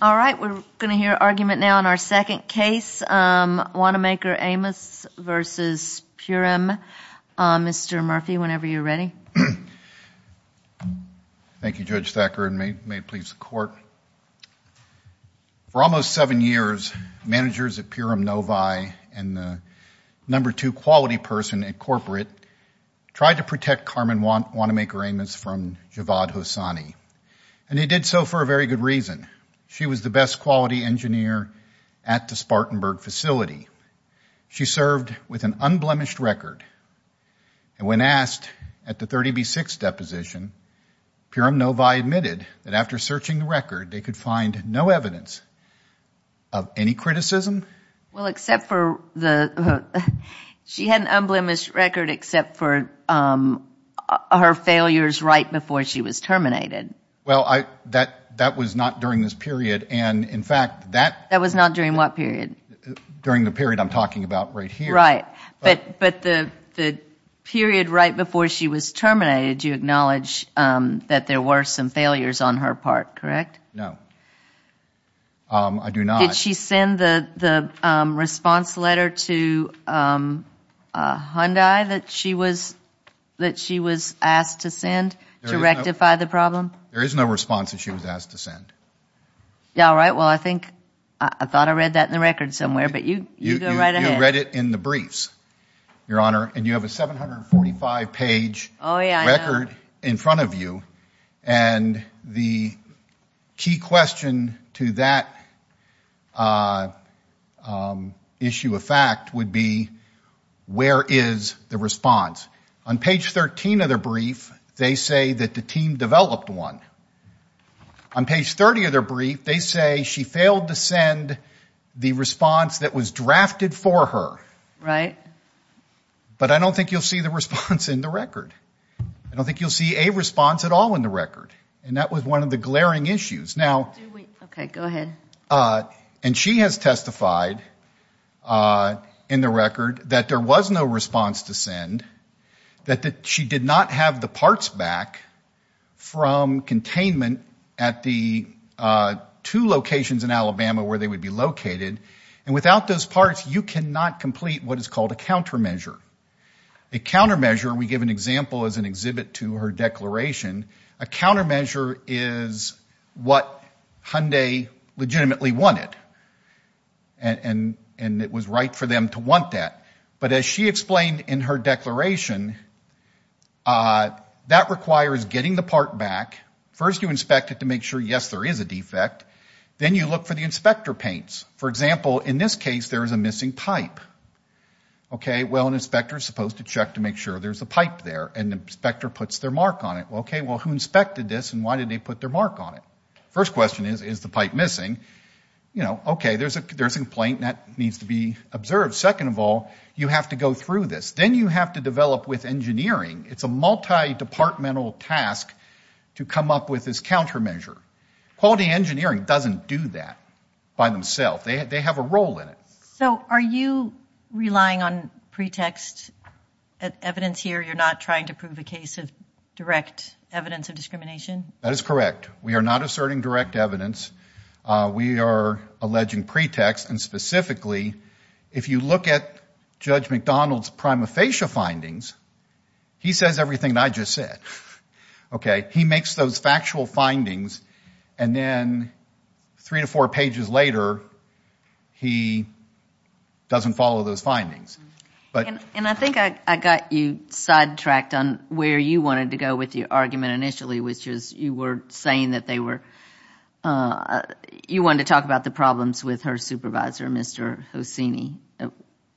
We're going to hear argument now in our second case, Wannamaker-Amos v. Purem. Mr. Murphy, whenever you're ready. Thank you, Judge Thacker. And may it please the Court, for almost seven years, managers at Purem Novi and the number two quality person at corporate tried to protect Carmen Wannamaker-Amos from Javad Hassani. And they did so for a very good reason. She was the best quality engineer at the Spartanburg facility. She served with an unblemished record. And when asked at the 30B6 deposition, Purem Novi admitted that after searching the record, they could find no evidence of any criticism. Well, except for the, she had an unblemished record except for her failures right before she was terminated. Well, that was not during this period. And in fact, that That was not during what period? During the period I'm talking about right here. Right. But the period right before she was terminated, you acknowledge that there were some failures on her part, correct? No. I do not. Did she send the response letter to Hyundai that she was asked to send? To rectify the problem? There is no response that she was asked to send. All right. Well, I think, I thought I read that in the record somewhere, but you go right ahead. You read it in the briefs, Your Honor. And you have a 745 page record in front of you. And the key question to that issue of fact would be, where is the response? On page 13 of the brief, they say that the team developed one. On page 30 of their brief, they say she failed to send the response that was drafted for her. Right. But I don't think you'll see the response in the record. I don't think you'll see a response at all in the record. And that was one of the glaring issues. Now, Okay, go ahead. And she has testified in the record that there was no response to send, that she did not have the parts back from containment at the two locations in Alabama where they would be located. And without those parts, you cannot complete what is called a countermeasure. A countermeasure, we give an example as an exhibit to her declaration, a countermeasure is what Hyundai legitimately wanted. And it was right for them to want that. But as she explained in her declaration, that requires getting the part back. First you inspect it to make sure, yes, there is a defect. Then you look for the inspector paints. For example, in this case, there is a missing pipe. Okay, well, an inspector is supposed to check to make sure there's a pipe there. And the inspector puts their mark on it. Okay, well, who inspected this and why did they put their mark on it? First question is, is the pipe missing? You know, okay, there's a complaint that needs to be observed. Second of all, you have to go through this. Then you have to develop with engineering. It's a multi-departmental task to come up with this countermeasure. Quality engineering doesn't do that by themselves. They have a role in it. So are you relying on pretext evidence here? You're not trying to prove a case of direct evidence of discrimination? That is correct. We are not asserting direct evidence. We are alleging pretext. And specifically, if you look at Judge McDonald's prima facie findings, he says everything I just said. Okay, he makes those factual findings. And then three to four pages later, he doesn't follow those findings. And I think I got you sidetracked on where you wanted to go with your argument initially, which is you were saying that you wanted to talk about the problems with her supervisor, Mr. Hossini.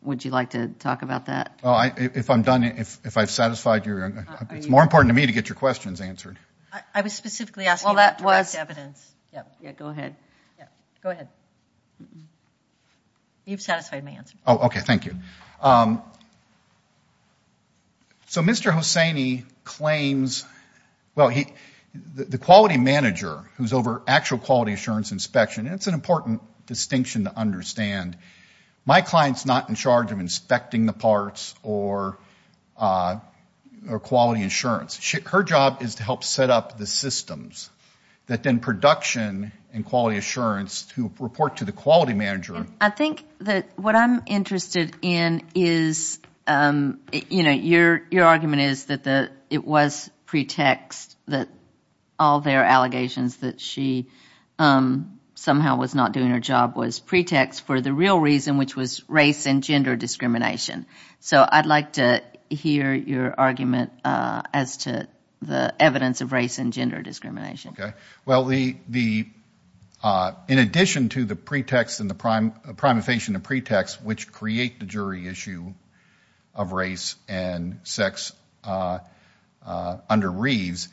Would you like to talk about that? If I'm done, if I've satisfied your, it's more important to me to get your questions answered. I was specifically asking about direct evidence. Go ahead. Go ahead. You've satisfied my answer. Okay, thank you. So Mr. Hossini claims, well, the quality manager who's over actual quality assurance inspection, and it's an important distinction to understand, my client's not in charge of inspecting the parts or quality insurance. Her job is to help set up the systems that then production and quality assurance to report to the quality manager. I think that what I'm interested in is, you know, your argument is that it was pretext that all their allegations that she somehow was not doing her job was pretext for the real reason, which was race and gender discrimination. So I'd like to hear your argument as to the evidence of race and gender discrimination. Okay, well, the, in addition to the pretext and the prime, a prima facie and a pretext, which create the jury issue of race and sex under Reeves,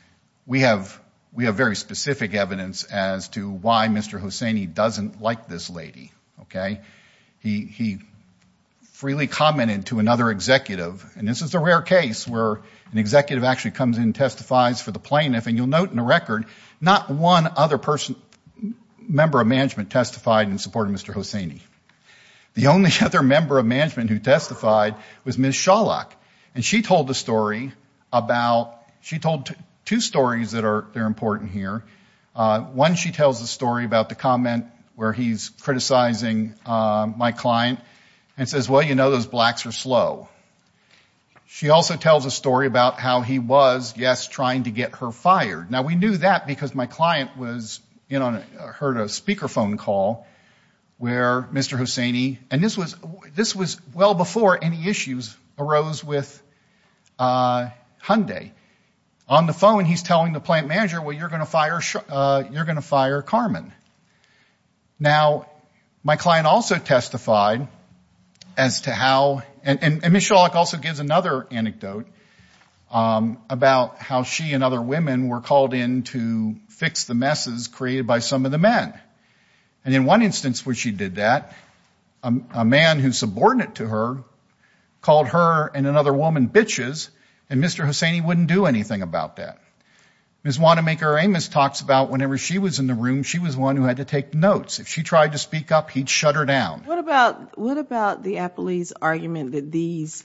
we have, we have very specific evidence as to why Mr. Hossini doesn't like this lady. Okay, he freely commented to another executive, and this is a rare case where an executive actually comes in testifies for the plaintiff, and you'll note in the record, not one other person, member of management testified in support of Mr. Hossini. The only other member of management who testified was Ms. Shawlock, and she told the story about, she told two stories that are important here. One, she tells the story about the comment where he's criticizing my client, and says, well, you know, those blacks are slow. She also tells a story about how he was, yes, trying to get her fired. Now, we knew that because my client was, you know, heard a speakerphone call where Mr. Hossini, and this was, this was well before any issues arose with Hyundai. On the phone, he's telling the plant manager, well, you're going to fire, you're going to fire Carmen. Now, my client also testified as to how, and Ms. Shawlock also gives another anecdote about how she and other women were called in to fix the messes created by some of the men, and in one instance where she did that, a man who's subordinate to her called her and another woman bitches, and Mr. Hossini wouldn't do anything about that. Ms. Wanamaker-Amos talks about whenever she was in the room, she was the one who had to take notes. If she tried to speak up, he'd shut her down. What about, what about the appellee's argument that these,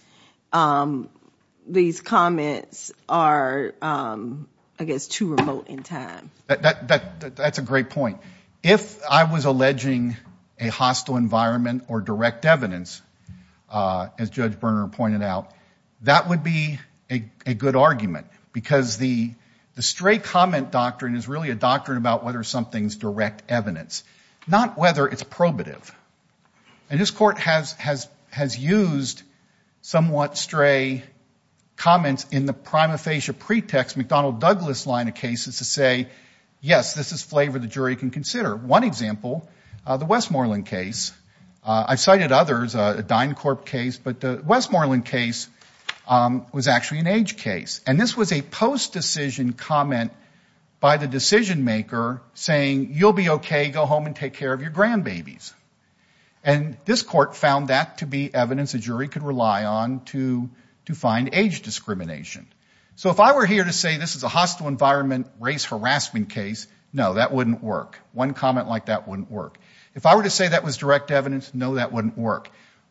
these comments are, I guess, too remote in time? That's a great point. If I was alleging a hostile environment or direct evidence, as Judge Berner pointed out, that would be a good argument because the stray comment doctrine is really a doctrine about whether something's direct evidence, not whether it's probative. And this court has used somewhat stray comments in the prima facie pretext, McDonnell-Douglas line of cases to say, yes, this is flavor the jury can consider. One example, the Westmoreland case. I've cited others, a DynCorp case, but the Westmoreland case was actually an age case. And this was a post-decision comment by the decision maker saying, you'll be okay, go home and take care of your grandbabies. And this court found that to be evidence a jury could rely on to find age discrimination. So if I were here to say this is a hostile environment race harassment case, no, that wouldn't work. One comment like that wouldn't work. If I were to say that was direct evidence, no, that wouldn't work.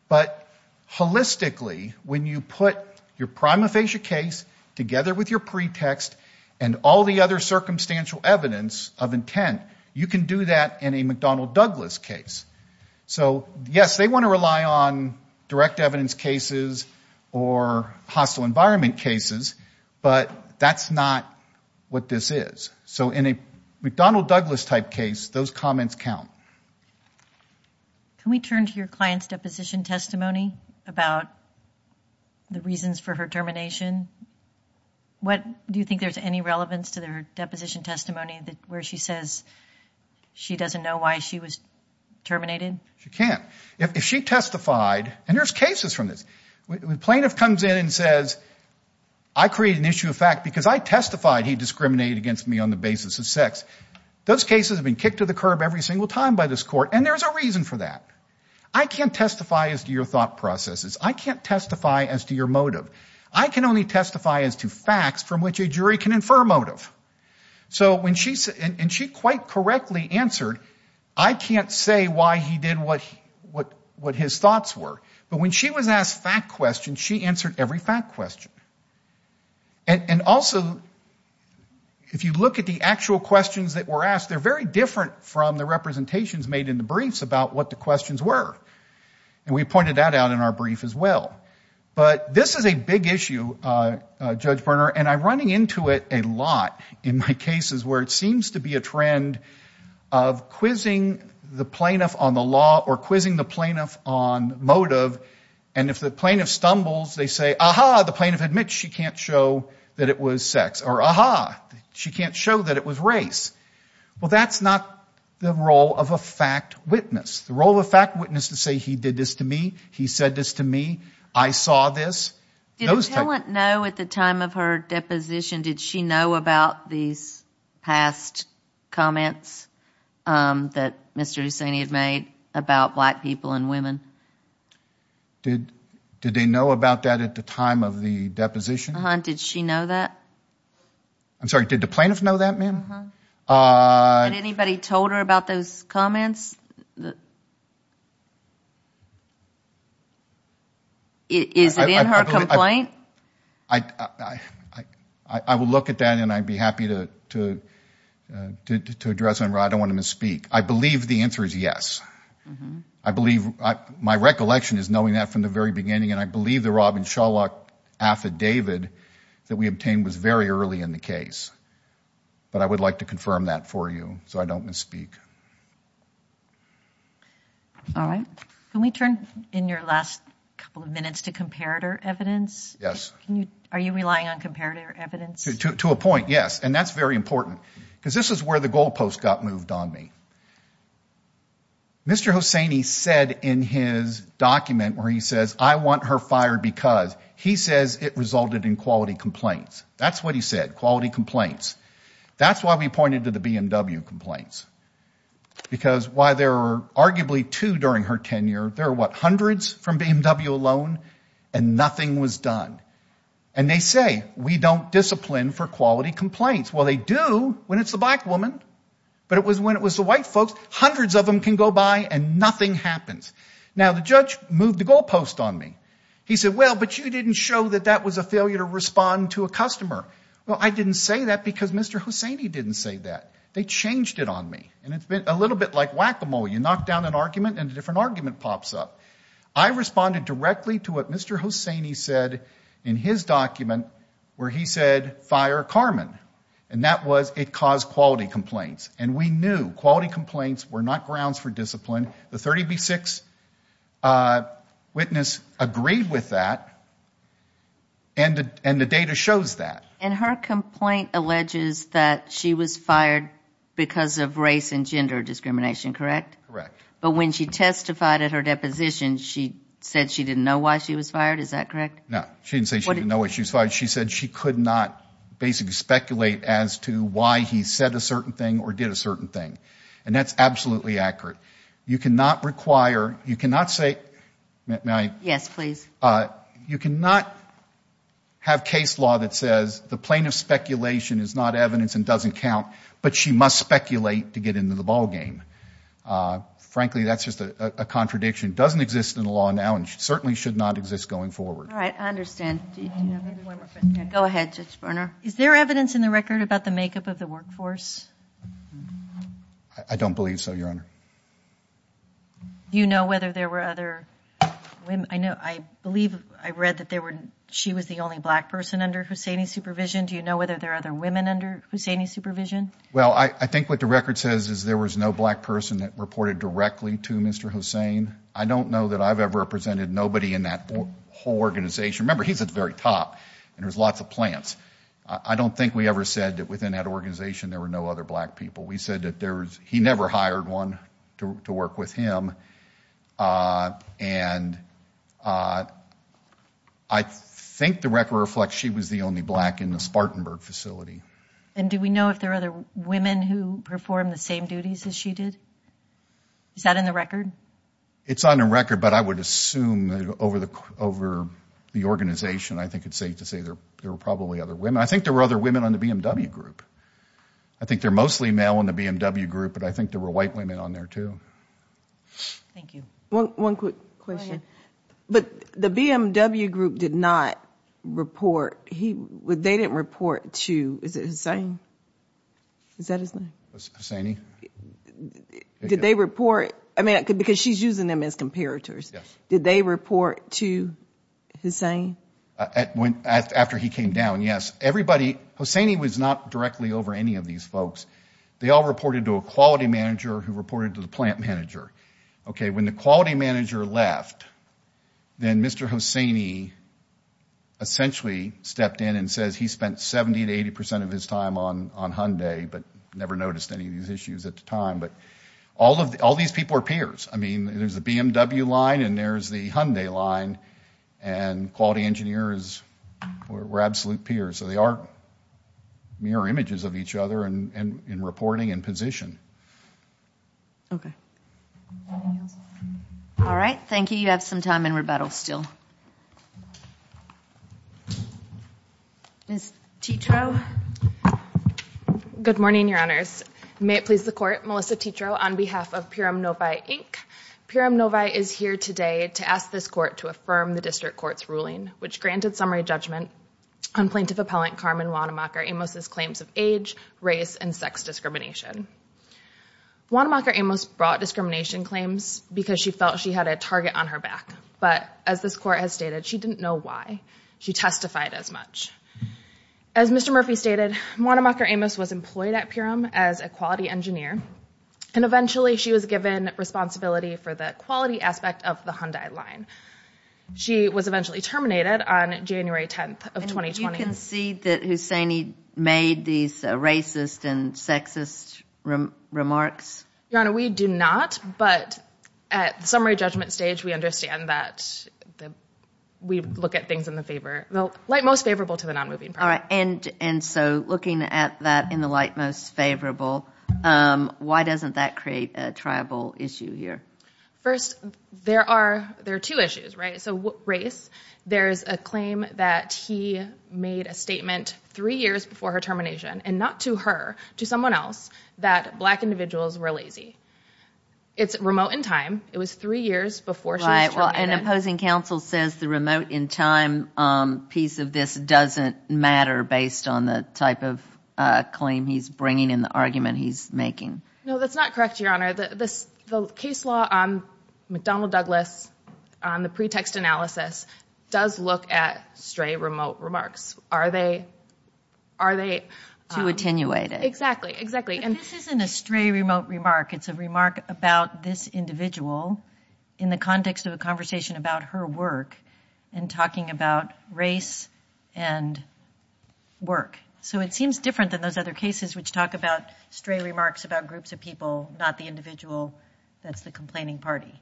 But holistically, when you put your prima facie case together with your pretext and all the other circumstantial evidence of intent, you can do that in a McDonnell-Douglas case. So, yes, they want to rely on direct evidence cases or hostile environment cases, but that's not what this is. So in a McDonnell-Douglas type case, those comments count. Can we turn to your client's deposition testimony about the reasons for her termination? Do you think there's any relevance to their deposition testimony where she says she doesn't know why she was terminated? She can't. If she testified, and there's cases from this, when plaintiff comes in and says, I create an issue of fact because I testified he discriminated against me on the basis of sex, those cases have been kicked to the curb every single time by this court, and there's a reason for that. I can't testify as to your thought processes. I can't testify as to your motive. I can only testify as to facts from which a jury can infer motive. So when she, and she quite correctly answered, I can't say why he did what his thoughts were. But when she was asked fact questions, she answered every fact question. And also, if you look at the actual questions that were asked, they're very different from the representations made in the briefs about what the questions were. And we pointed that out in our brief as well. But this is a big issue, Judge Berner, and I'm running into it a lot in my cases where it seems to be a trend of quizzing the plaintiff on the law or quizzing the plaintiff on motive, and if the plaintiff stumbles, they say, ah-ha, the plaintiff admits she can't show that it was sex, or ah-ha, she can't show that it was race. Well, that's not the role of a fact witness. The role of a fact witness is to say he did this to me, he said this to me, I saw this. Did the plaintiff know at the time of her deposition, did she know about these past comments that Mr. Hussaini had made about black people and women? Did they know about that at the time of the deposition? Did she know that? I'm sorry, did the plaintiff know that, ma'am? Had anybody told her about those comments? Is it in her complaint? I will look at that, and I'd be happy to address it. I don't want to misspeak. I believe the answer is yes. I believe my recollection is knowing that from the very beginning, and I believe the Rob and Sherlock affidavit that we obtained was very early in the case, but I would like to confirm that for you so I don't misspeak. All right. Can we turn in your last couple of minutes to comparator evidence? Yes. Are you relying on comparator evidence? To a point, yes, and that's very important, because this is where the goalpost got moved on me. Mr. Hussaini said in his document where he says, I want her fired because he says it resulted in quality complaints. That's what he said, quality complaints. That's why we pointed to the BMW complaints, because while there are arguably two during her tenure, there are, what, hundreds from BMW alone, and nothing was done. And they say we don't discipline for quality complaints. Well, they do when it's a black woman, but it was when it was the white folks. Hundreds of them can go by, and nothing happens. Now, the judge moved the goalpost on me. He said, well, but you didn't show that that was a failure to respond to a customer. Well, I didn't say that because Mr. Hussaini didn't say that. They changed it on me, and it's a little bit like whack-a-mole. You knock down an argument, and a different argument pops up. I responded directly to what Mr. Hussaini said in his document where he said, fire Carmen, and that was it caused quality complaints. And we knew quality complaints were not grounds for discipline. The 30B6 witness agreed with that, and the data shows that. And her complaint alleges that she was fired because of race and gender discrimination, correct? Correct. But when she testified at her deposition, she said she didn't know why she was fired. Is that correct? No, she didn't say she didn't know why she was fired. She said she could not basically speculate as to why he said a certain thing or did a certain thing, and that's absolutely accurate. You cannot require, you cannot say, may I? Yes, please. You cannot have case law that says the plaintiff's speculation is not evidence and doesn't count, but she must speculate to get into the ballgame. Frankly, that's just a contradiction. It doesn't exist in the law now, and certainly should not exist going forward. All right, I understand. Go ahead, Judge Berner. Is there evidence in the record about the makeup of the workforce? I don't believe so, Your Honor. Do you know whether there were other women? I believe I read that she was the only black person under Hussaini's supervision. Do you know whether there are other women under Hussaini's supervision? Well, I think what the record says is there was no black person that reported directly to Mr. Hussain. I don't know that I've ever represented nobody in that whole organization. Remember, he's at the very top, and there's lots of plants. I don't think we ever said that within that organization there were no other black people. We said that he never hired one to work with him, and I think the record reflects she was the only black in the Spartanburg facility. And do we know if there are other women who performed the same duties as she did? Is that in the record? It's on the record, but I would assume over the organization, I think it's safe to say there were probably other women. I think there were other women on the BMW group. I think they're mostly male on the BMW group, but I think there were white women on there too. Thank you. One quick question. Go ahead. But the BMW group did not report. They didn't report to, is it Hussain? Is that his name? Hussaini. Did they report? I mean, because she's using them as comparators. Yes. Did they report to Hussain? After he came down, yes. Everybody, Hussaini was not directly over any of these folks. They all reported to a quality manager who reported to the plant manager. Okay, when the quality manager left, then Mr. Hussaini essentially stepped in and says he spent 70 to 80 percent of his time on Hyundai, but never noticed any of these issues at the time. But all these people are peers. I mean, there's the BMW line and there's the Hyundai line, and quality engineers were absolute peers. So they are mirror images of each other in reporting and position. Okay. All right, thank you. You have some time in rebuttal still. Ms. Tietro. Good morning, Your Honors. May it please the Court, Melissa Tietro on behalf of Pyram Novi, Inc. Pyram Novi is here today to ask this court to affirm the district court's ruling, which granted summary judgment on plaintiff appellant Carmen Wannemacher Amos' claims of age, race, and sex discrimination. Wannemacher Amos brought discrimination claims because she felt she had a target on her back, but as this court has stated, she didn't know why. She testified as much. As Mr. Murphy stated, Wannemacher Amos was employed at Pyram as a quality engineer, and eventually she was given responsibility for the quality aspect of the Hyundai line. She was eventually terminated on January 10th of 2020. Do you concede that Husseini made these racist and sexist remarks? Your Honor, we do not, but at the summary judgment stage, we understand that we look at things in the favor, the light most favorable to the nonmoving party. All right, and so looking at that in the light most favorable, why doesn't that create a tribal issue here? First, there are two issues, right? So race, there is a claim that he made a statement three years before her termination, and not to her, to someone else, that black individuals were lazy. It's remote in time. It was three years before she was terminated. And opposing counsel says the remote in time piece of this doesn't matter based on the type of claim he's bringing and the argument he's making. No, that's not correct, Your Honor. The case law on McDonnell Douglas, on the pretext analysis, does look at stray remote remarks. Are they? Too attenuated. Exactly, exactly. This isn't a stray remote remark. It's a remark about this individual in the context of a conversation about her work and talking about race and work. So it seems different than those other cases which talk about stray remarks about groups of people, not the individual that's the complaining party.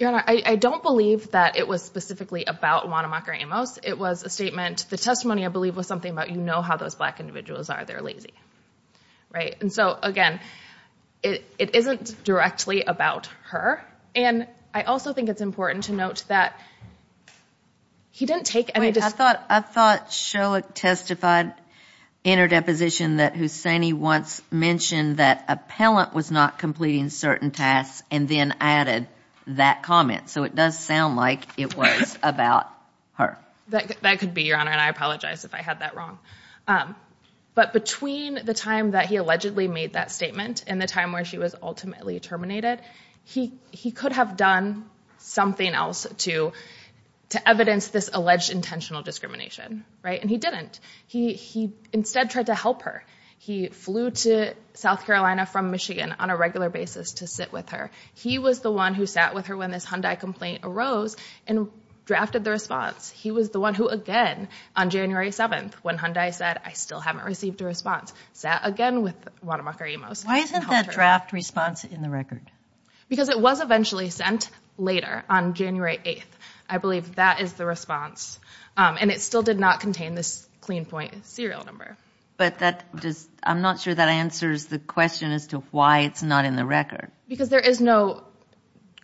Your Honor, I don't believe that it was specifically about Wanamaker Amos. It was a statement. The testimony, I believe, was something about you know how those black individuals are. They're lazy, right? And so, again, it isn't directly about her. And I also think it's important to note that he didn't take any of this. I thought Sherlock testified in her deposition that Hussaini once mentioned that an appellant was not completing certain tasks and then added that comment. So it does sound like it was about her. That could be, Your Honor, and I apologize if I had that wrong. But between the time that he allegedly made that statement and the time where she was ultimately terminated, he could have done something else to evidence this alleged intentional discrimination, right? And he didn't. He instead tried to help her. He flew to South Carolina from Michigan on a regular basis to sit with her. He was the one who sat with her when this Hyundai complaint arose and drafted the response. He was the one who, again, on January 7th, when Hyundai said, I still haven't received a response, sat again with Wanamaker-Emos. Why isn't that draft response in the record? Because it was eventually sent later on January 8th. I believe that is the response. And it still did not contain this clean point serial number. But I'm not sure that answers the question as to why it's not in the record. Because there is no,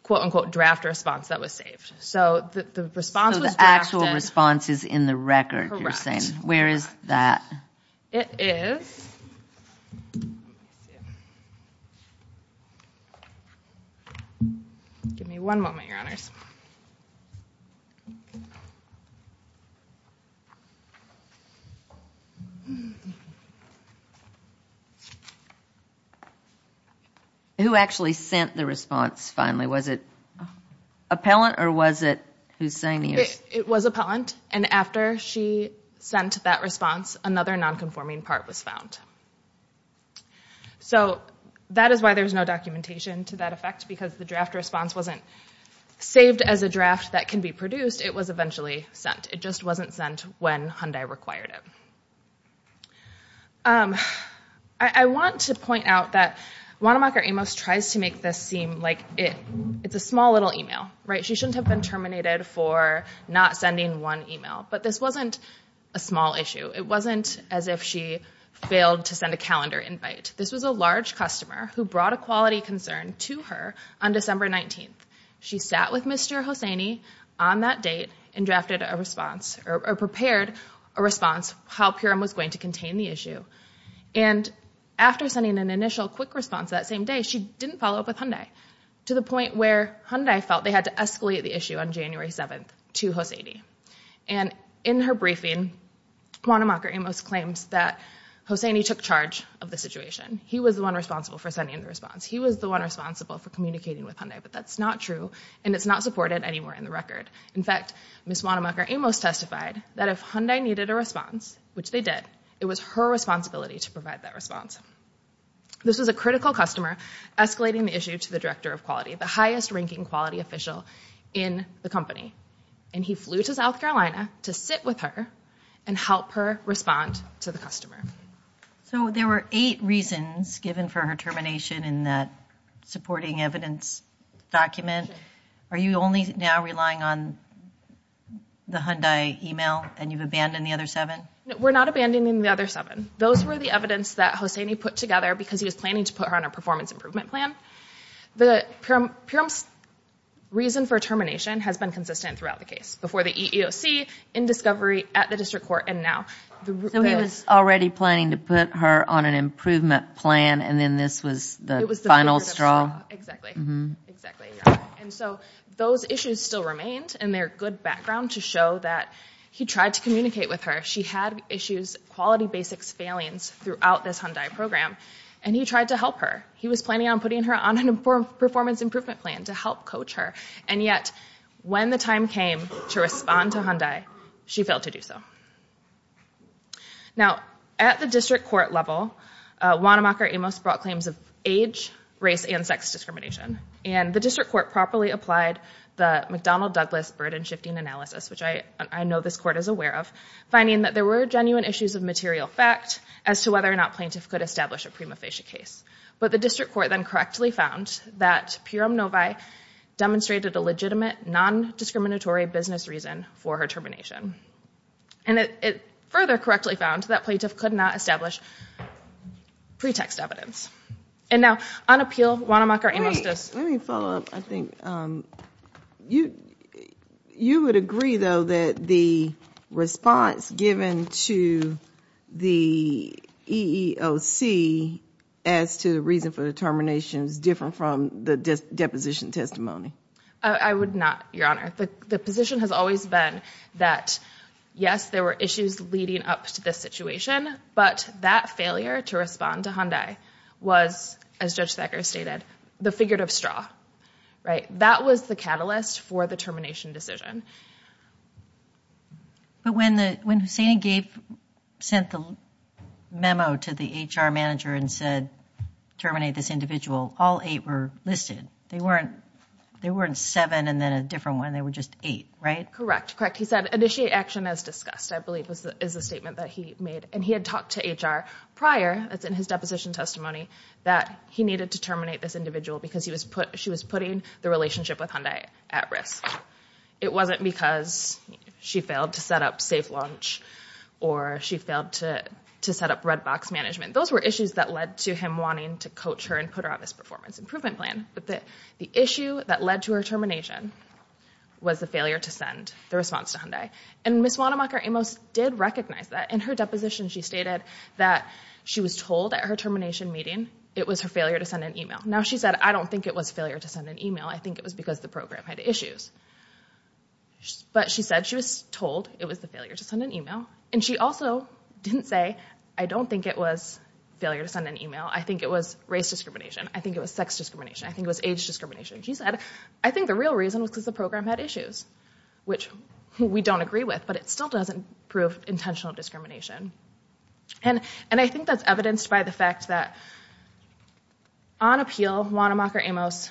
quote, unquote, draft response that was saved. So the response was drafted. So the actual response is in the record, you're saying. Correct. Where is that? It is. Give me one moment, Your Honors. Who actually sent the response finally? Was it appellant or was it Hussaini? It was appellant. And after she sent that response, another nonconforming part was found. So that is why there is no documentation to that effect. Because the draft response wasn't saved as a draft that can be produced. It was eventually sent. It just wasn't sent when Hyundai required it. I want to point out that Wanamaker Amos tries to make this seem like it's a small little email. Right? She shouldn't have been terminated for not sending one email. But this wasn't a small issue. It wasn't as if she failed to send a calendar invite. This was a large customer who brought a quality concern to her on December 19th. She sat with Mr. Hussaini on that date and drafted a response, or prepared a response, how Purim was going to contain the issue. And after sending an initial quick response that same day, she didn't follow up with Hyundai. To the point where Hyundai felt they had to escalate the issue on January 7th to Hussaini. And in her briefing, Wanamaker Amos claims that Hussaini took charge of the situation. He was the one responsible for sending the response. He was the one responsible for communicating with Hyundai. But that's not true. And it's not supported anywhere in the record. In fact, Ms. Wanamaker Amos testified that if Hyundai needed a response, which they did, it was her responsibility to provide that response. This was a critical customer escalating the issue to the director of quality, the highest ranking quality official in the company. And he flew to South Carolina to sit with her and help her respond to the customer. So there were eight reasons given for her termination in that supporting evidence document. Are you only now relying on the Hyundai email and you've abandoned the other seven? We're not abandoning the other seven. Those were the evidence that Hussaini put together because he was planning to put her on a performance improvement plan. The reason for termination has been consistent throughout the case. Before the EEOC, in discovery, at the district court, and now. So he was already planning to put her on an improvement plan and then this was the final straw? Exactly, exactly. And so those issues still remained and they're good background to show that he tried to communicate with her. She had issues, quality basics failings, throughout this Hyundai program. And he tried to help her. He was planning on putting her on a performance improvement plan to help coach her. And yet when the time came to respond to Hyundai, she failed to do so. Now at the district court level, Wanamaker-Amos brought claims of age, race, and sex discrimination. And the district court properly applied the McDonnell-Douglas burden shifting analysis, which I know this court is aware of, finding that there were genuine issues of material fact as to whether or not plaintiff could establish a prima facie case. But the district court then correctly found that Piram-Novi demonstrated a legitimate non-discriminatory business reason for her termination. And it further correctly found that plaintiff could not establish pretext evidence. And now on appeal, Wanamaker-Amos does. Let me follow up. I think you would agree, though, that the response given to the EEOC as to the reason for the termination is different from the deposition testimony. I would not, Your Honor. The position has always been that, yes, there were issues leading up to this situation, but that failure to respond to Hyundai was, as Judge Thacker stated, the figurative straw. That was the catalyst for the termination decision. But when Hussain and Gabe sent the memo to the HR manager and said, terminate this individual, all eight were listed. They weren't seven and then a different one. They were just eight, right? Correct. Correct. He said, initiate action as discussed, I believe is the statement that he made. And he had talked to HR prior, as in his deposition testimony, that he needed to terminate this individual because she was putting the relationship with Hyundai at risk. It wasn't because she failed to set up safe launch or she failed to set up red box management. Those were issues that led to him wanting to coach her and put her on this performance improvement plan. But the issue that led to her termination was the failure to send the response to Hyundai. And Ms. Wanamaker-Amos did recognize that. In her deposition she stated that she was told at her termination meeting it was her failure to send an email. Now she said, I don't think it was failure to send an email. I think it was because the program had issues. But she said she was told it was the failure to send an email. And she also didn't say, I don't think it was failure to send an email. I think it was race discrimination. I think it was sex discrimination. I think it was age discrimination. She said, I think the real reason was because the program had issues. Which we don't agree with, but it still doesn't prove intentional discrimination. And I think that's evidenced by the fact that on appeal, Wanamaker-Amos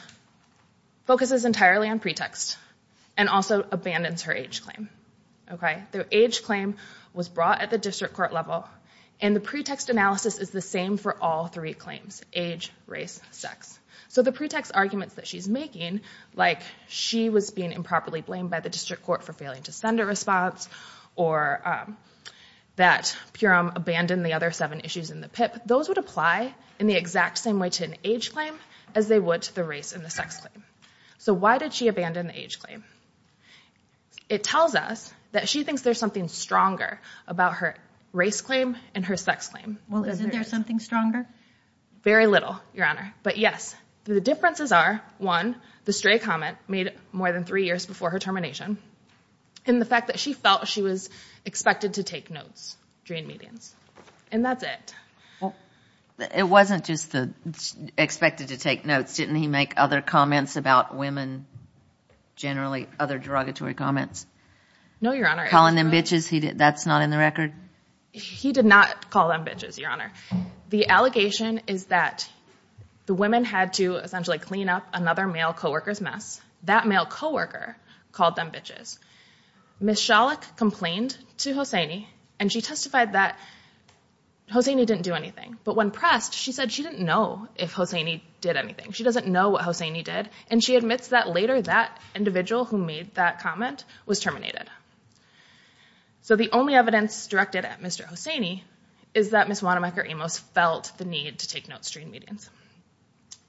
focuses entirely on pretext and also abandons her age claim. Their age claim was brought at the district court level. And the pretext analysis is the same for all three claims, age, race, sex. So the pretext arguments that she's making, like she was being improperly blamed by the district court for failing to send a response, or that Purim abandoned the other seven issues in the PIP, those would apply in the exact same way to an age claim as they would to the race and the sex claim. So why did she abandon the age claim? It tells us that she thinks there's something stronger about her race claim and her sex claim. Well, isn't there something stronger? Very little, Your Honor. But yes, the differences are, one, the stray comment made more than three years before her termination, and the fact that she felt she was expected to take notes during meetings. And that's it. It wasn't just the expected to take notes. Didn't he make other comments about women, generally other derogatory comments? No, Your Honor. Calling them bitches, that's not in the record? He did not call them bitches, Your Honor. The allegation is that the women had to essentially clean up another male co-worker's mess. That male co-worker called them bitches. Ms. Schalich complained to Hosseini, and she testified that Hosseini didn't do anything. But when pressed, she said she didn't know if Hosseini did anything. She doesn't know what Hosseini did, and she admits that later that individual who made that comment was terminated. So the only evidence directed at Mr. Hosseini is that Ms. Wanamaker-Amos felt the need to take notes during meetings.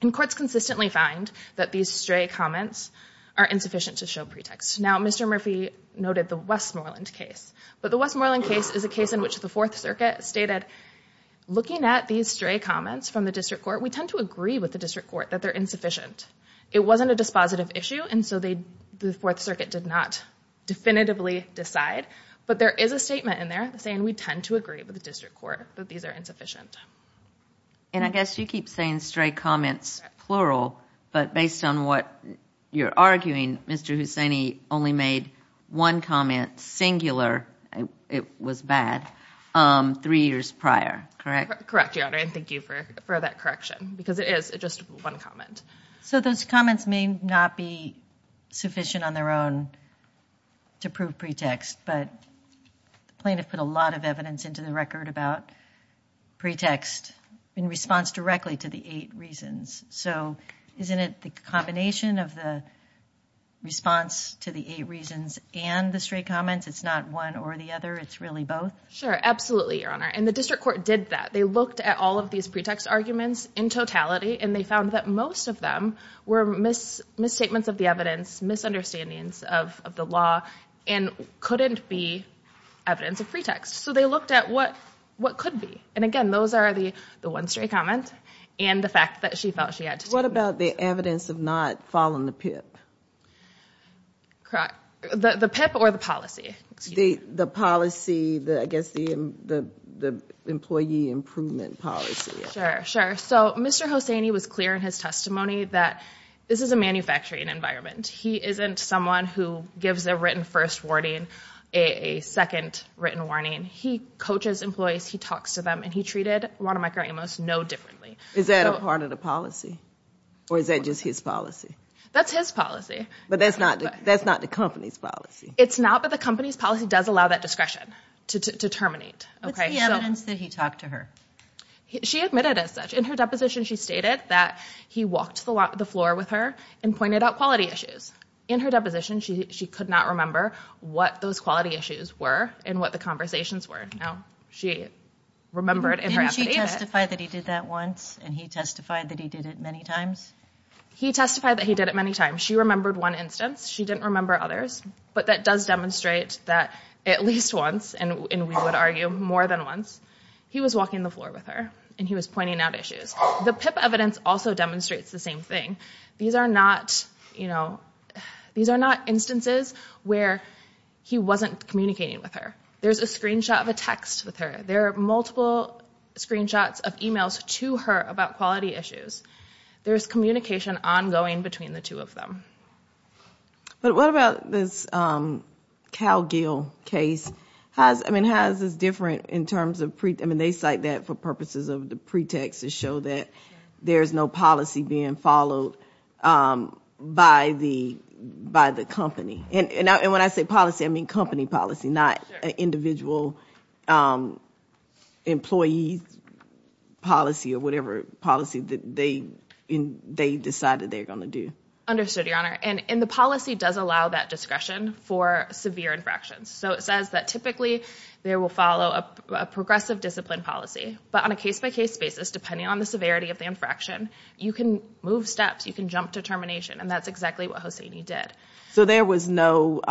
And courts consistently find that these stray comments are insufficient to show pretext. Now, Mr. Murphy noted the Westmoreland case. But the Westmoreland case is a case in which the Fourth Circuit stated, looking at these stray comments from the district court, we tend to agree with the district court that they're insufficient. It wasn't a dispositive issue, and so the Fourth Circuit did not definitively decide. But there is a statement in there saying we tend to agree with the district court that these are insufficient. And I guess you keep saying stray comments, plural, but based on what you're arguing, Mr. Hosseini only made one comment, singular, it was bad, three years prior, correct? Correct, Your Honor, and thank you for that correction, because it is just one comment. So those comments may not be sufficient on their own to prove pretext, but the plaintiff put a lot of evidence into the record about pretext in response directly to the eight reasons. So isn't it the combination of the response to the eight reasons and the stray comments, it's not one or the other, it's really both? Sure, absolutely, Your Honor, and the district court did that. They looked at all of these pretext arguments in totality, and they found that most of them were misstatements of the evidence, misunderstandings of the law, and couldn't be evidence of pretext. So they looked at what could be. And again, those are the one stray comment and the fact that she felt she had to take it. What about the evidence of not following the PIP? The PIP or the policy? The policy, I guess the employee improvement policy. Sure, sure. So Mr. Hosseini was clear in his testimony that this is a manufacturing environment. He isn't someone who gives a written first warning, a second written warning. He coaches employees, he talks to them, and he treated Wanamaker Amos no differently. Is that a part of the policy, or is that just his policy? That's his policy. But that's not the company's policy. It's not, but the company's policy does allow that discretion to terminate. What's the evidence that he talked to her? She admitted as such. In her deposition, she stated that he walked to the floor with her and pointed out quality issues. In her deposition, she could not remember what those quality issues were and what the conversations were. She remembered in her affidavit. Didn't she testify that he did that once, and he testified that he did it many times? He testified that he did it many times. She remembered one instance. She didn't remember others, but that does demonstrate that at least once, and we would argue more than once, he was walking the floor with her, and he was pointing out issues. The PIP evidence also demonstrates the same thing. These are not instances where he wasn't communicating with her. There's a screenshot of a text with her. There are multiple screenshots of e-mails to her about quality issues. There's communication ongoing between the two of them. But what about this Cal Gill case? I mean, how is this different in terms of pre- I mean, they cite that for purposes of the pretext to show that there's no policy being followed by the company. And when I say policy, I mean company policy, not individual employee policy or whatever policy that they decided they're going to do. Understood, Your Honor. And the policy does allow that discretion for severe infractions. So it says that typically they will follow a progressive discipline policy. But on a case-by-case basis, depending on the severity of the infraction, you can move steps, you can jump to termination, and that's exactly what Hosseini did. So there was no-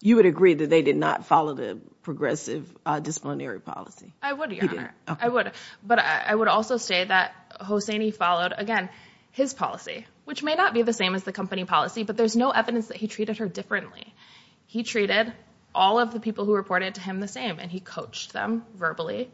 you would agree that they did not follow the progressive disciplinary policy? I would, Your Honor. You didn't? I would. But I would also say that Hosseini followed, again, his policy, which may not be the same as the company policy, but there's no evidence that he treated her differently. He treated all of the people who reported to him the same, and he coached them verbally,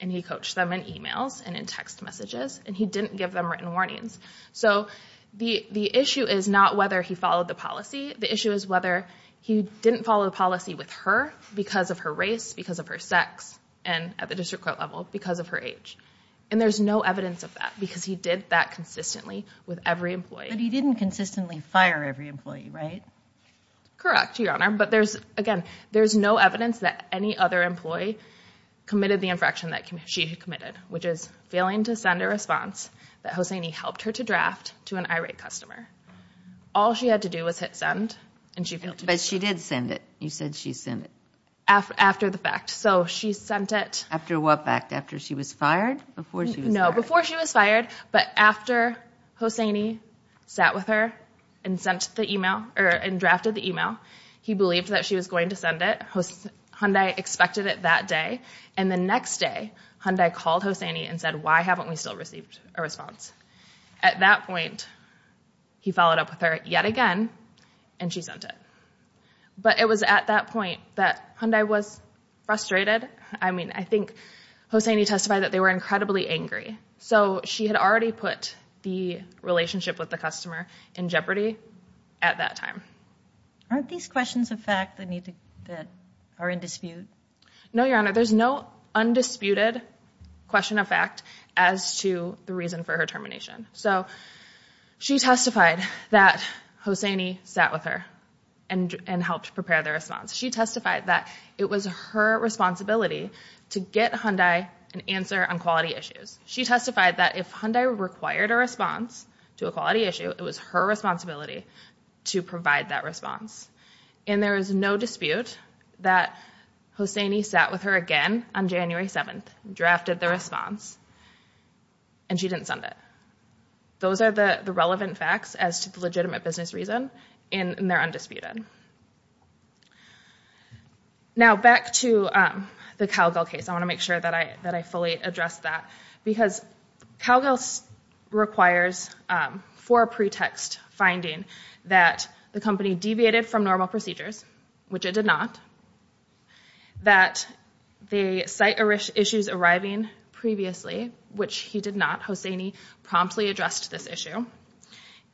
and he coached them in emails and in text messages, and he didn't give them written warnings. So the issue is not whether he followed the policy. The issue is whether he didn't follow the policy with her because of her race, because of her sex, and at the district court level, because of her age. And there's no evidence of that because he did that consistently with every employee. But he didn't consistently fire every employee, right? Correct, Your Honor. But there's, again, there's no evidence that any other employee committed the infraction that she had committed, which is failing to send a response that Hosseini helped her to draft to an irate customer. All she had to do was hit send, and she failed to do so. But she did send it. You said she sent it. After the fact. So she sent it- After what fact? After she was fired? Before she was fired? But after Hosseini sat with her and drafted the email, he believed that she was going to send it. Hyundai expected it that day, and the next day, Hyundai called Hosseini and said, why haven't we still received a response? At that point, he followed up with her yet again, and she sent it. But it was at that point that Hyundai was frustrated. I mean, I think Hosseini testified that they were incredibly angry. So she had already put the relationship with the customer in jeopardy at that time. Aren't these questions of fact that are in dispute? No, Your Honor. There's no undisputed question of fact as to the reason for her termination. So she testified that Hosseini sat with her and helped prepare the response. She testified that it was her responsibility to get Hyundai an answer on quality issues. She testified that if Hyundai required a response to a quality issue, it was her responsibility to provide that response. And there is no dispute that Hosseini sat with her again on January 7th, drafted the response, and she didn't send it. Those are the relevant facts as to the legitimate business reason, and they're undisputed. Now back to the Calgill case. I want to make sure that I fully address that. Because Calgill requires for a pretext finding that the company deviated from normal procedures, which it did not, that the site issues arriving previously, which he did not, Hosseini promptly addressed this issue,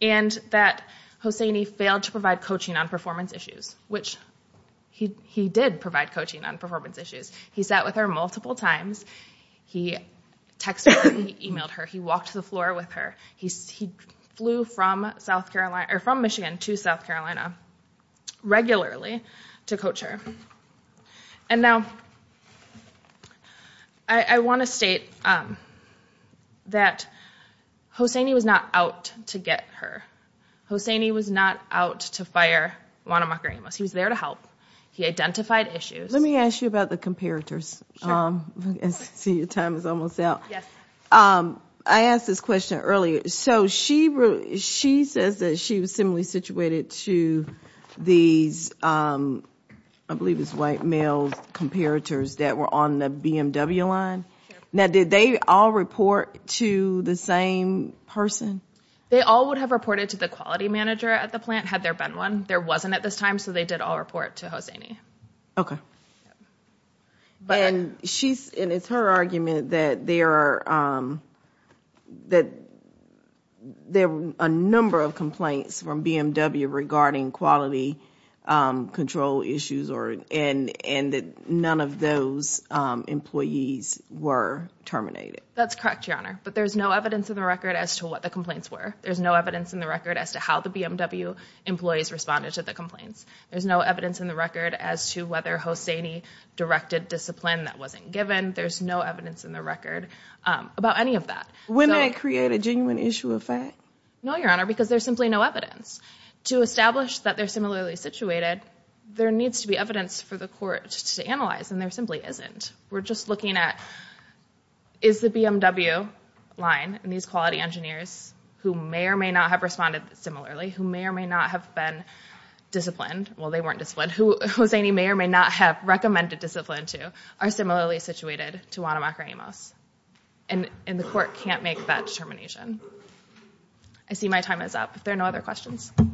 and that Hosseini failed to provide coaching on performance issues, which he did provide coaching on performance issues. He sat with her multiple times. He texted her. He emailed her. He walked to the floor with her. He flew from Michigan to South Carolina regularly to coach her. And now I want to state that Hosseini was not out to get her. Hosseini was not out to fire Juana MacRamos. He was there to help. He identified issues. Let me ask you about the comparators. I see your time is almost out. I asked this question earlier. So she says that she was similarly situated to these, I believe it's white males, comparators that were on the BMW line. Now did they all report to the same person? They all would have reported to the quality manager at the plant had there been one. There wasn't at this time, so they did all report to Hosseini. Okay. And it's her argument that there were a number of complaints from BMW regarding quality control issues and that none of those employees were terminated. That's correct, Your Honor. But there's no evidence in the record as to what the complaints were. There's no evidence in the record as to how the BMW employees responded to the complaints. There's no evidence in the record as to whether Hosseini directed discipline that wasn't given. There's no evidence in the record about any of that. Wouldn't that create a genuine issue of fact? No, Your Honor, because there's simply no evidence. To establish that they're similarly situated, there needs to be evidence for the court to analyze, and there simply isn't. We're just looking at is the BMW line and these quality engineers who may or may not have responded similarly, who may or may not have been disciplined, well, they weren't disciplined, who Hosseini may or may not have recommended discipline to, are similarly situated to Wanamaker Amos. And the court can't make that determination. I see my time is up. Are there no other questions? All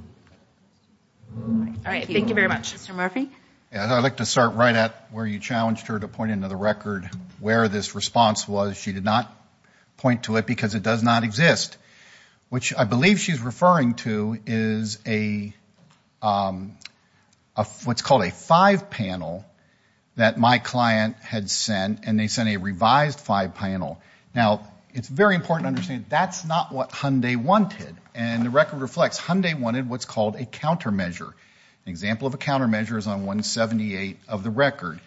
right. Thank you very much. Mr. Murphy? I'd like to start right at where you challenged her to point into the record where this response was. She did not point to it because it does not exist, which I believe she's referring to is what's called a five panel that my client had sent, and they sent a revised five panel. Now, it's very important to understand that's not what Hyundai wanted, and the record reflects Hyundai wanted what's called a countermeasure. An example of a countermeasure is on 178 of the record.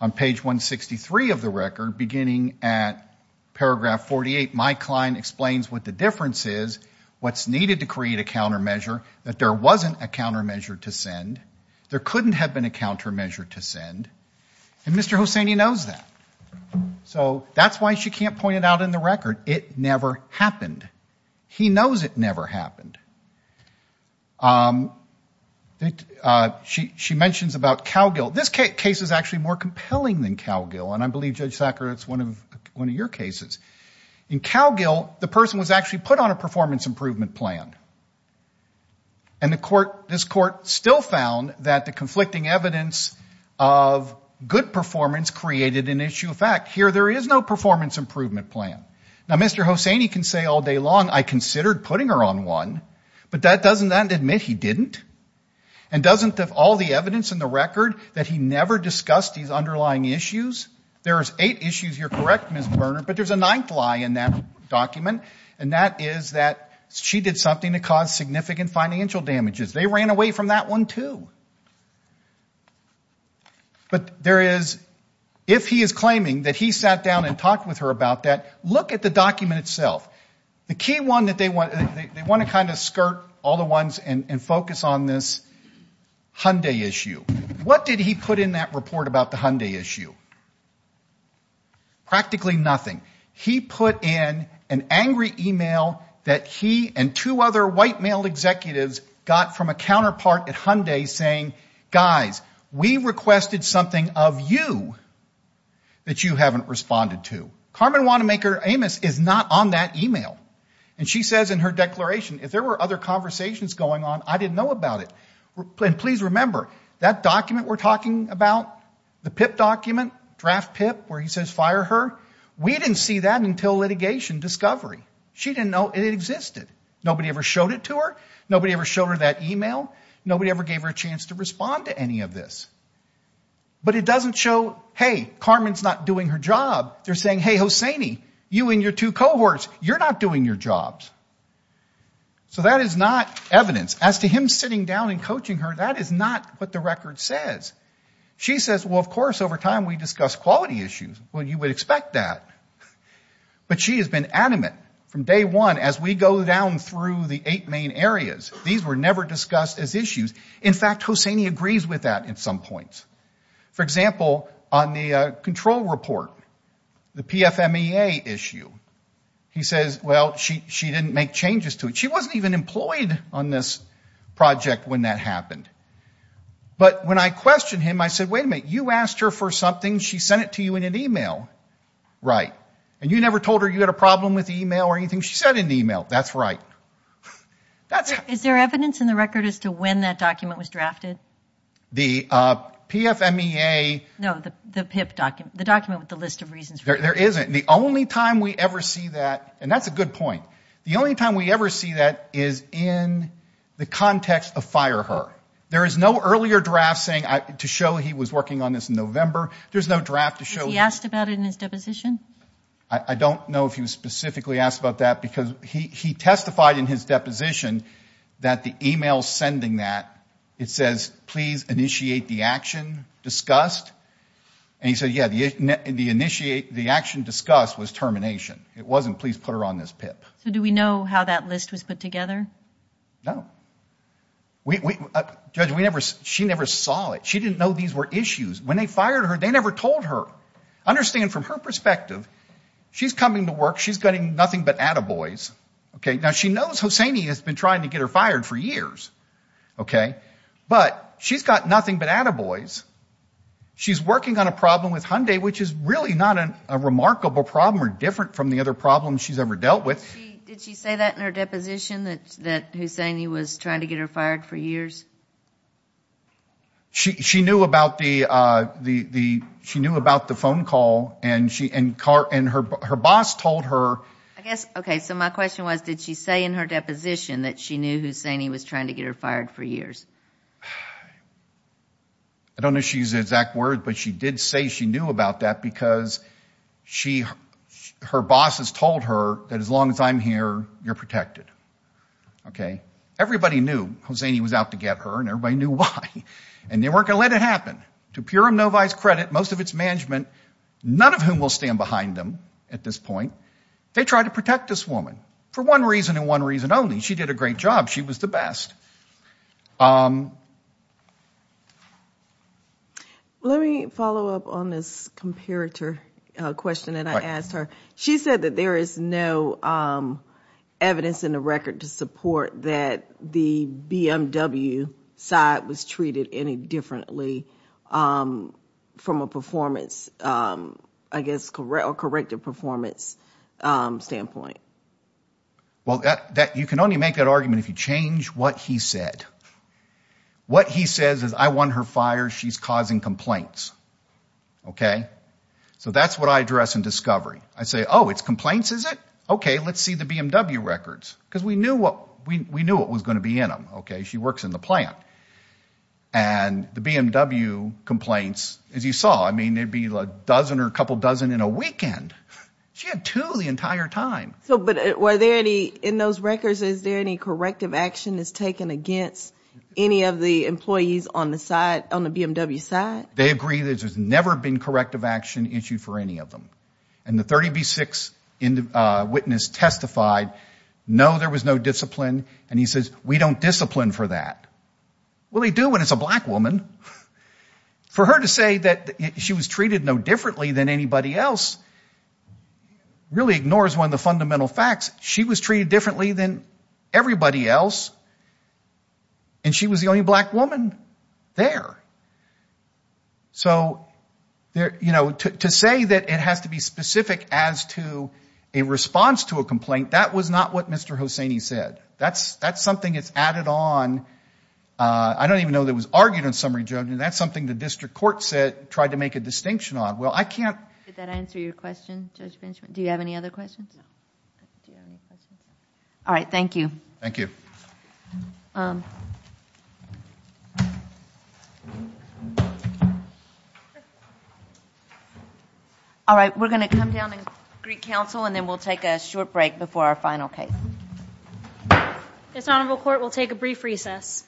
On page 163 of the record, beginning at paragraph 48, my client explains what the difference is, what's needed to create a countermeasure, that there wasn't a countermeasure to send, there couldn't have been a countermeasure to send, and Mr. Hosseini knows that. So that's why she can't point it out in the record. It never happened. He knows it never happened. She mentions about cow guilt. This case is actually more compelling than cow guilt, and I believe, Judge Sacker, it's one of your cases. In cow guilt, the person was actually put on a performance improvement plan, and this court still found that the conflicting evidence of good performance created an issue of fact. Here, there is no performance improvement plan. Now, Mr. Hosseini can say all day long, I considered putting her on one, but doesn't that admit he didn't? And doesn't all the evidence in the record that he never discussed these underlying issues? There's eight issues, you're correct, Ms. Berner, but there's a ninth lie in that document, and that is that she did something to cause significant financial damages. They ran away from that one, too. But there is, if he is claiming that he sat down and talked with her about that, look at the document itself. The key one that they want to kind of skirt all the ones and focus on this Hyundai issue. What did he put in that report about the Hyundai issue? Practically nothing. He put in an angry e-mail that he and two other white male executives got from a counterpart at Hyundai saying, guys, we requested something of you that you haven't responded to. Carmen Wanamaker Amos is not on that e-mail, and she says in her declaration, if there were other conversations going on, I didn't know about it. And please remember, that document we're talking about, the PIP document, draft PIP where he says fire her, we didn't see that until litigation discovery. She didn't know it existed. Nobody ever showed it to her. Nobody ever showed her that e-mail. Nobody ever gave her a chance to respond to any of this. But it doesn't show, hey, Carmen's not doing her job. They're saying, hey, Hosseini, you and your two cohorts, you're not doing your jobs. So that is not evidence. As to him sitting down and coaching her, that is not what the record says. She says, well, of course, over time we discussed quality issues. Well, you would expect that. But she has been adamant from day one as we go down through the eight main areas. These were never discussed as issues. In fact, Hosseini agrees with that at some points. For example, on the control report, the PFMEA issue, he says, well, she didn't make changes to it. She wasn't even employed on this project when that happened. But when I questioned him, I said, wait a minute, you asked her for something. She sent it to you in an e-mail. Right. And you never told her you had a problem with the e-mail or anything. She sent an e-mail. That's right. Is there evidence in the record as to when that document was drafted? The PFMEA. No, the PIP document, the document with the list of reasons. There isn't. The only time we ever see that, and that's a good point, the only time we ever see that is in the context of fire her. There is no earlier draft to show he was working on this in November. There's no draft to show. Was he asked about it in his deposition? I don't know if he was specifically asked about that because he testified in his deposition that the e-mail sending that, it says, please initiate the action discussed. And he said, yeah, the action discussed was termination. It wasn't please put her on this PIP. So do we know how that list was put together? No. Judge, she never saw it. She didn't know these were issues. When they fired her, they never told her. Understand from her perspective, she's coming to work, she's getting nothing but attaboys. Now, she knows Hosseini has been trying to get her fired for years, but she's got nothing but attaboys. She's working on a problem with Hyundai, which is really not a remarkable problem or different from the other problems she's ever dealt with. Did she say that in her deposition, that Hosseini was trying to get her fired for years? She knew about the phone call, and her boss told her. I guess, okay, so my question was, did she say in her deposition that she knew Hosseini was trying to get her fired for years? I don't know if she used the exact words, but she did say she knew about that because her boss has told her that as long as I'm here, you're protected. Okay? Everybody knew Hosseini was out to get her, and everybody knew why. And they weren't going to let it happen. To Purim Novi's credit, most of its management, none of whom will stand behind them at this point, they tried to protect this woman for one reason and one reason only. She did a great job. She was the best. Let me follow up on this comparator question that I asked her. She said that there is no evidence in the record to support that the BMW side was treated any differently from a performance, I guess, corrective performance standpoint. Well, you can only make that argument if you change what he said. What he says is, I want her fired. She's causing complaints. Okay? So that's what I address in discovery. I say, oh, it's complaints, is it? Okay, let's see the BMW records because we knew what was going to be in them. Okay, she works in the plant. And the BMW complaints, as you saw, I mean, there'd be a dozen or a couple dozen in a weekend. She had two the entire time. But were there any, in those records, is there any corrective action that's taken against any of the employees on the BMW side? They agree that there's never been corrective action issued for any of them. And the 30B6 witness testified, no, there was no discipline. And he says, we don't discipline for that. Well, they do when it's a black woman. For her to say that she was treated no differently than anybody else really ignores one of the fundamental facts. She was treated differently than everybody else, and she was the only black woman there. So, you know, to say that it has to be specific as to a response to a complaint, that was not what Mr. Hosseini said. That's something that's added on. I don't even know that it was argued in summary judgment. That's something the district court tried to make a distinction on. Well, I can't. Did that answer your question, Judge Benjamin? Do you have any other questions? All right, thank you. Thank you. All right, we're going to come down and greet counsel, and then we'll take a short break before our final case. This honorable court will take a brief recess.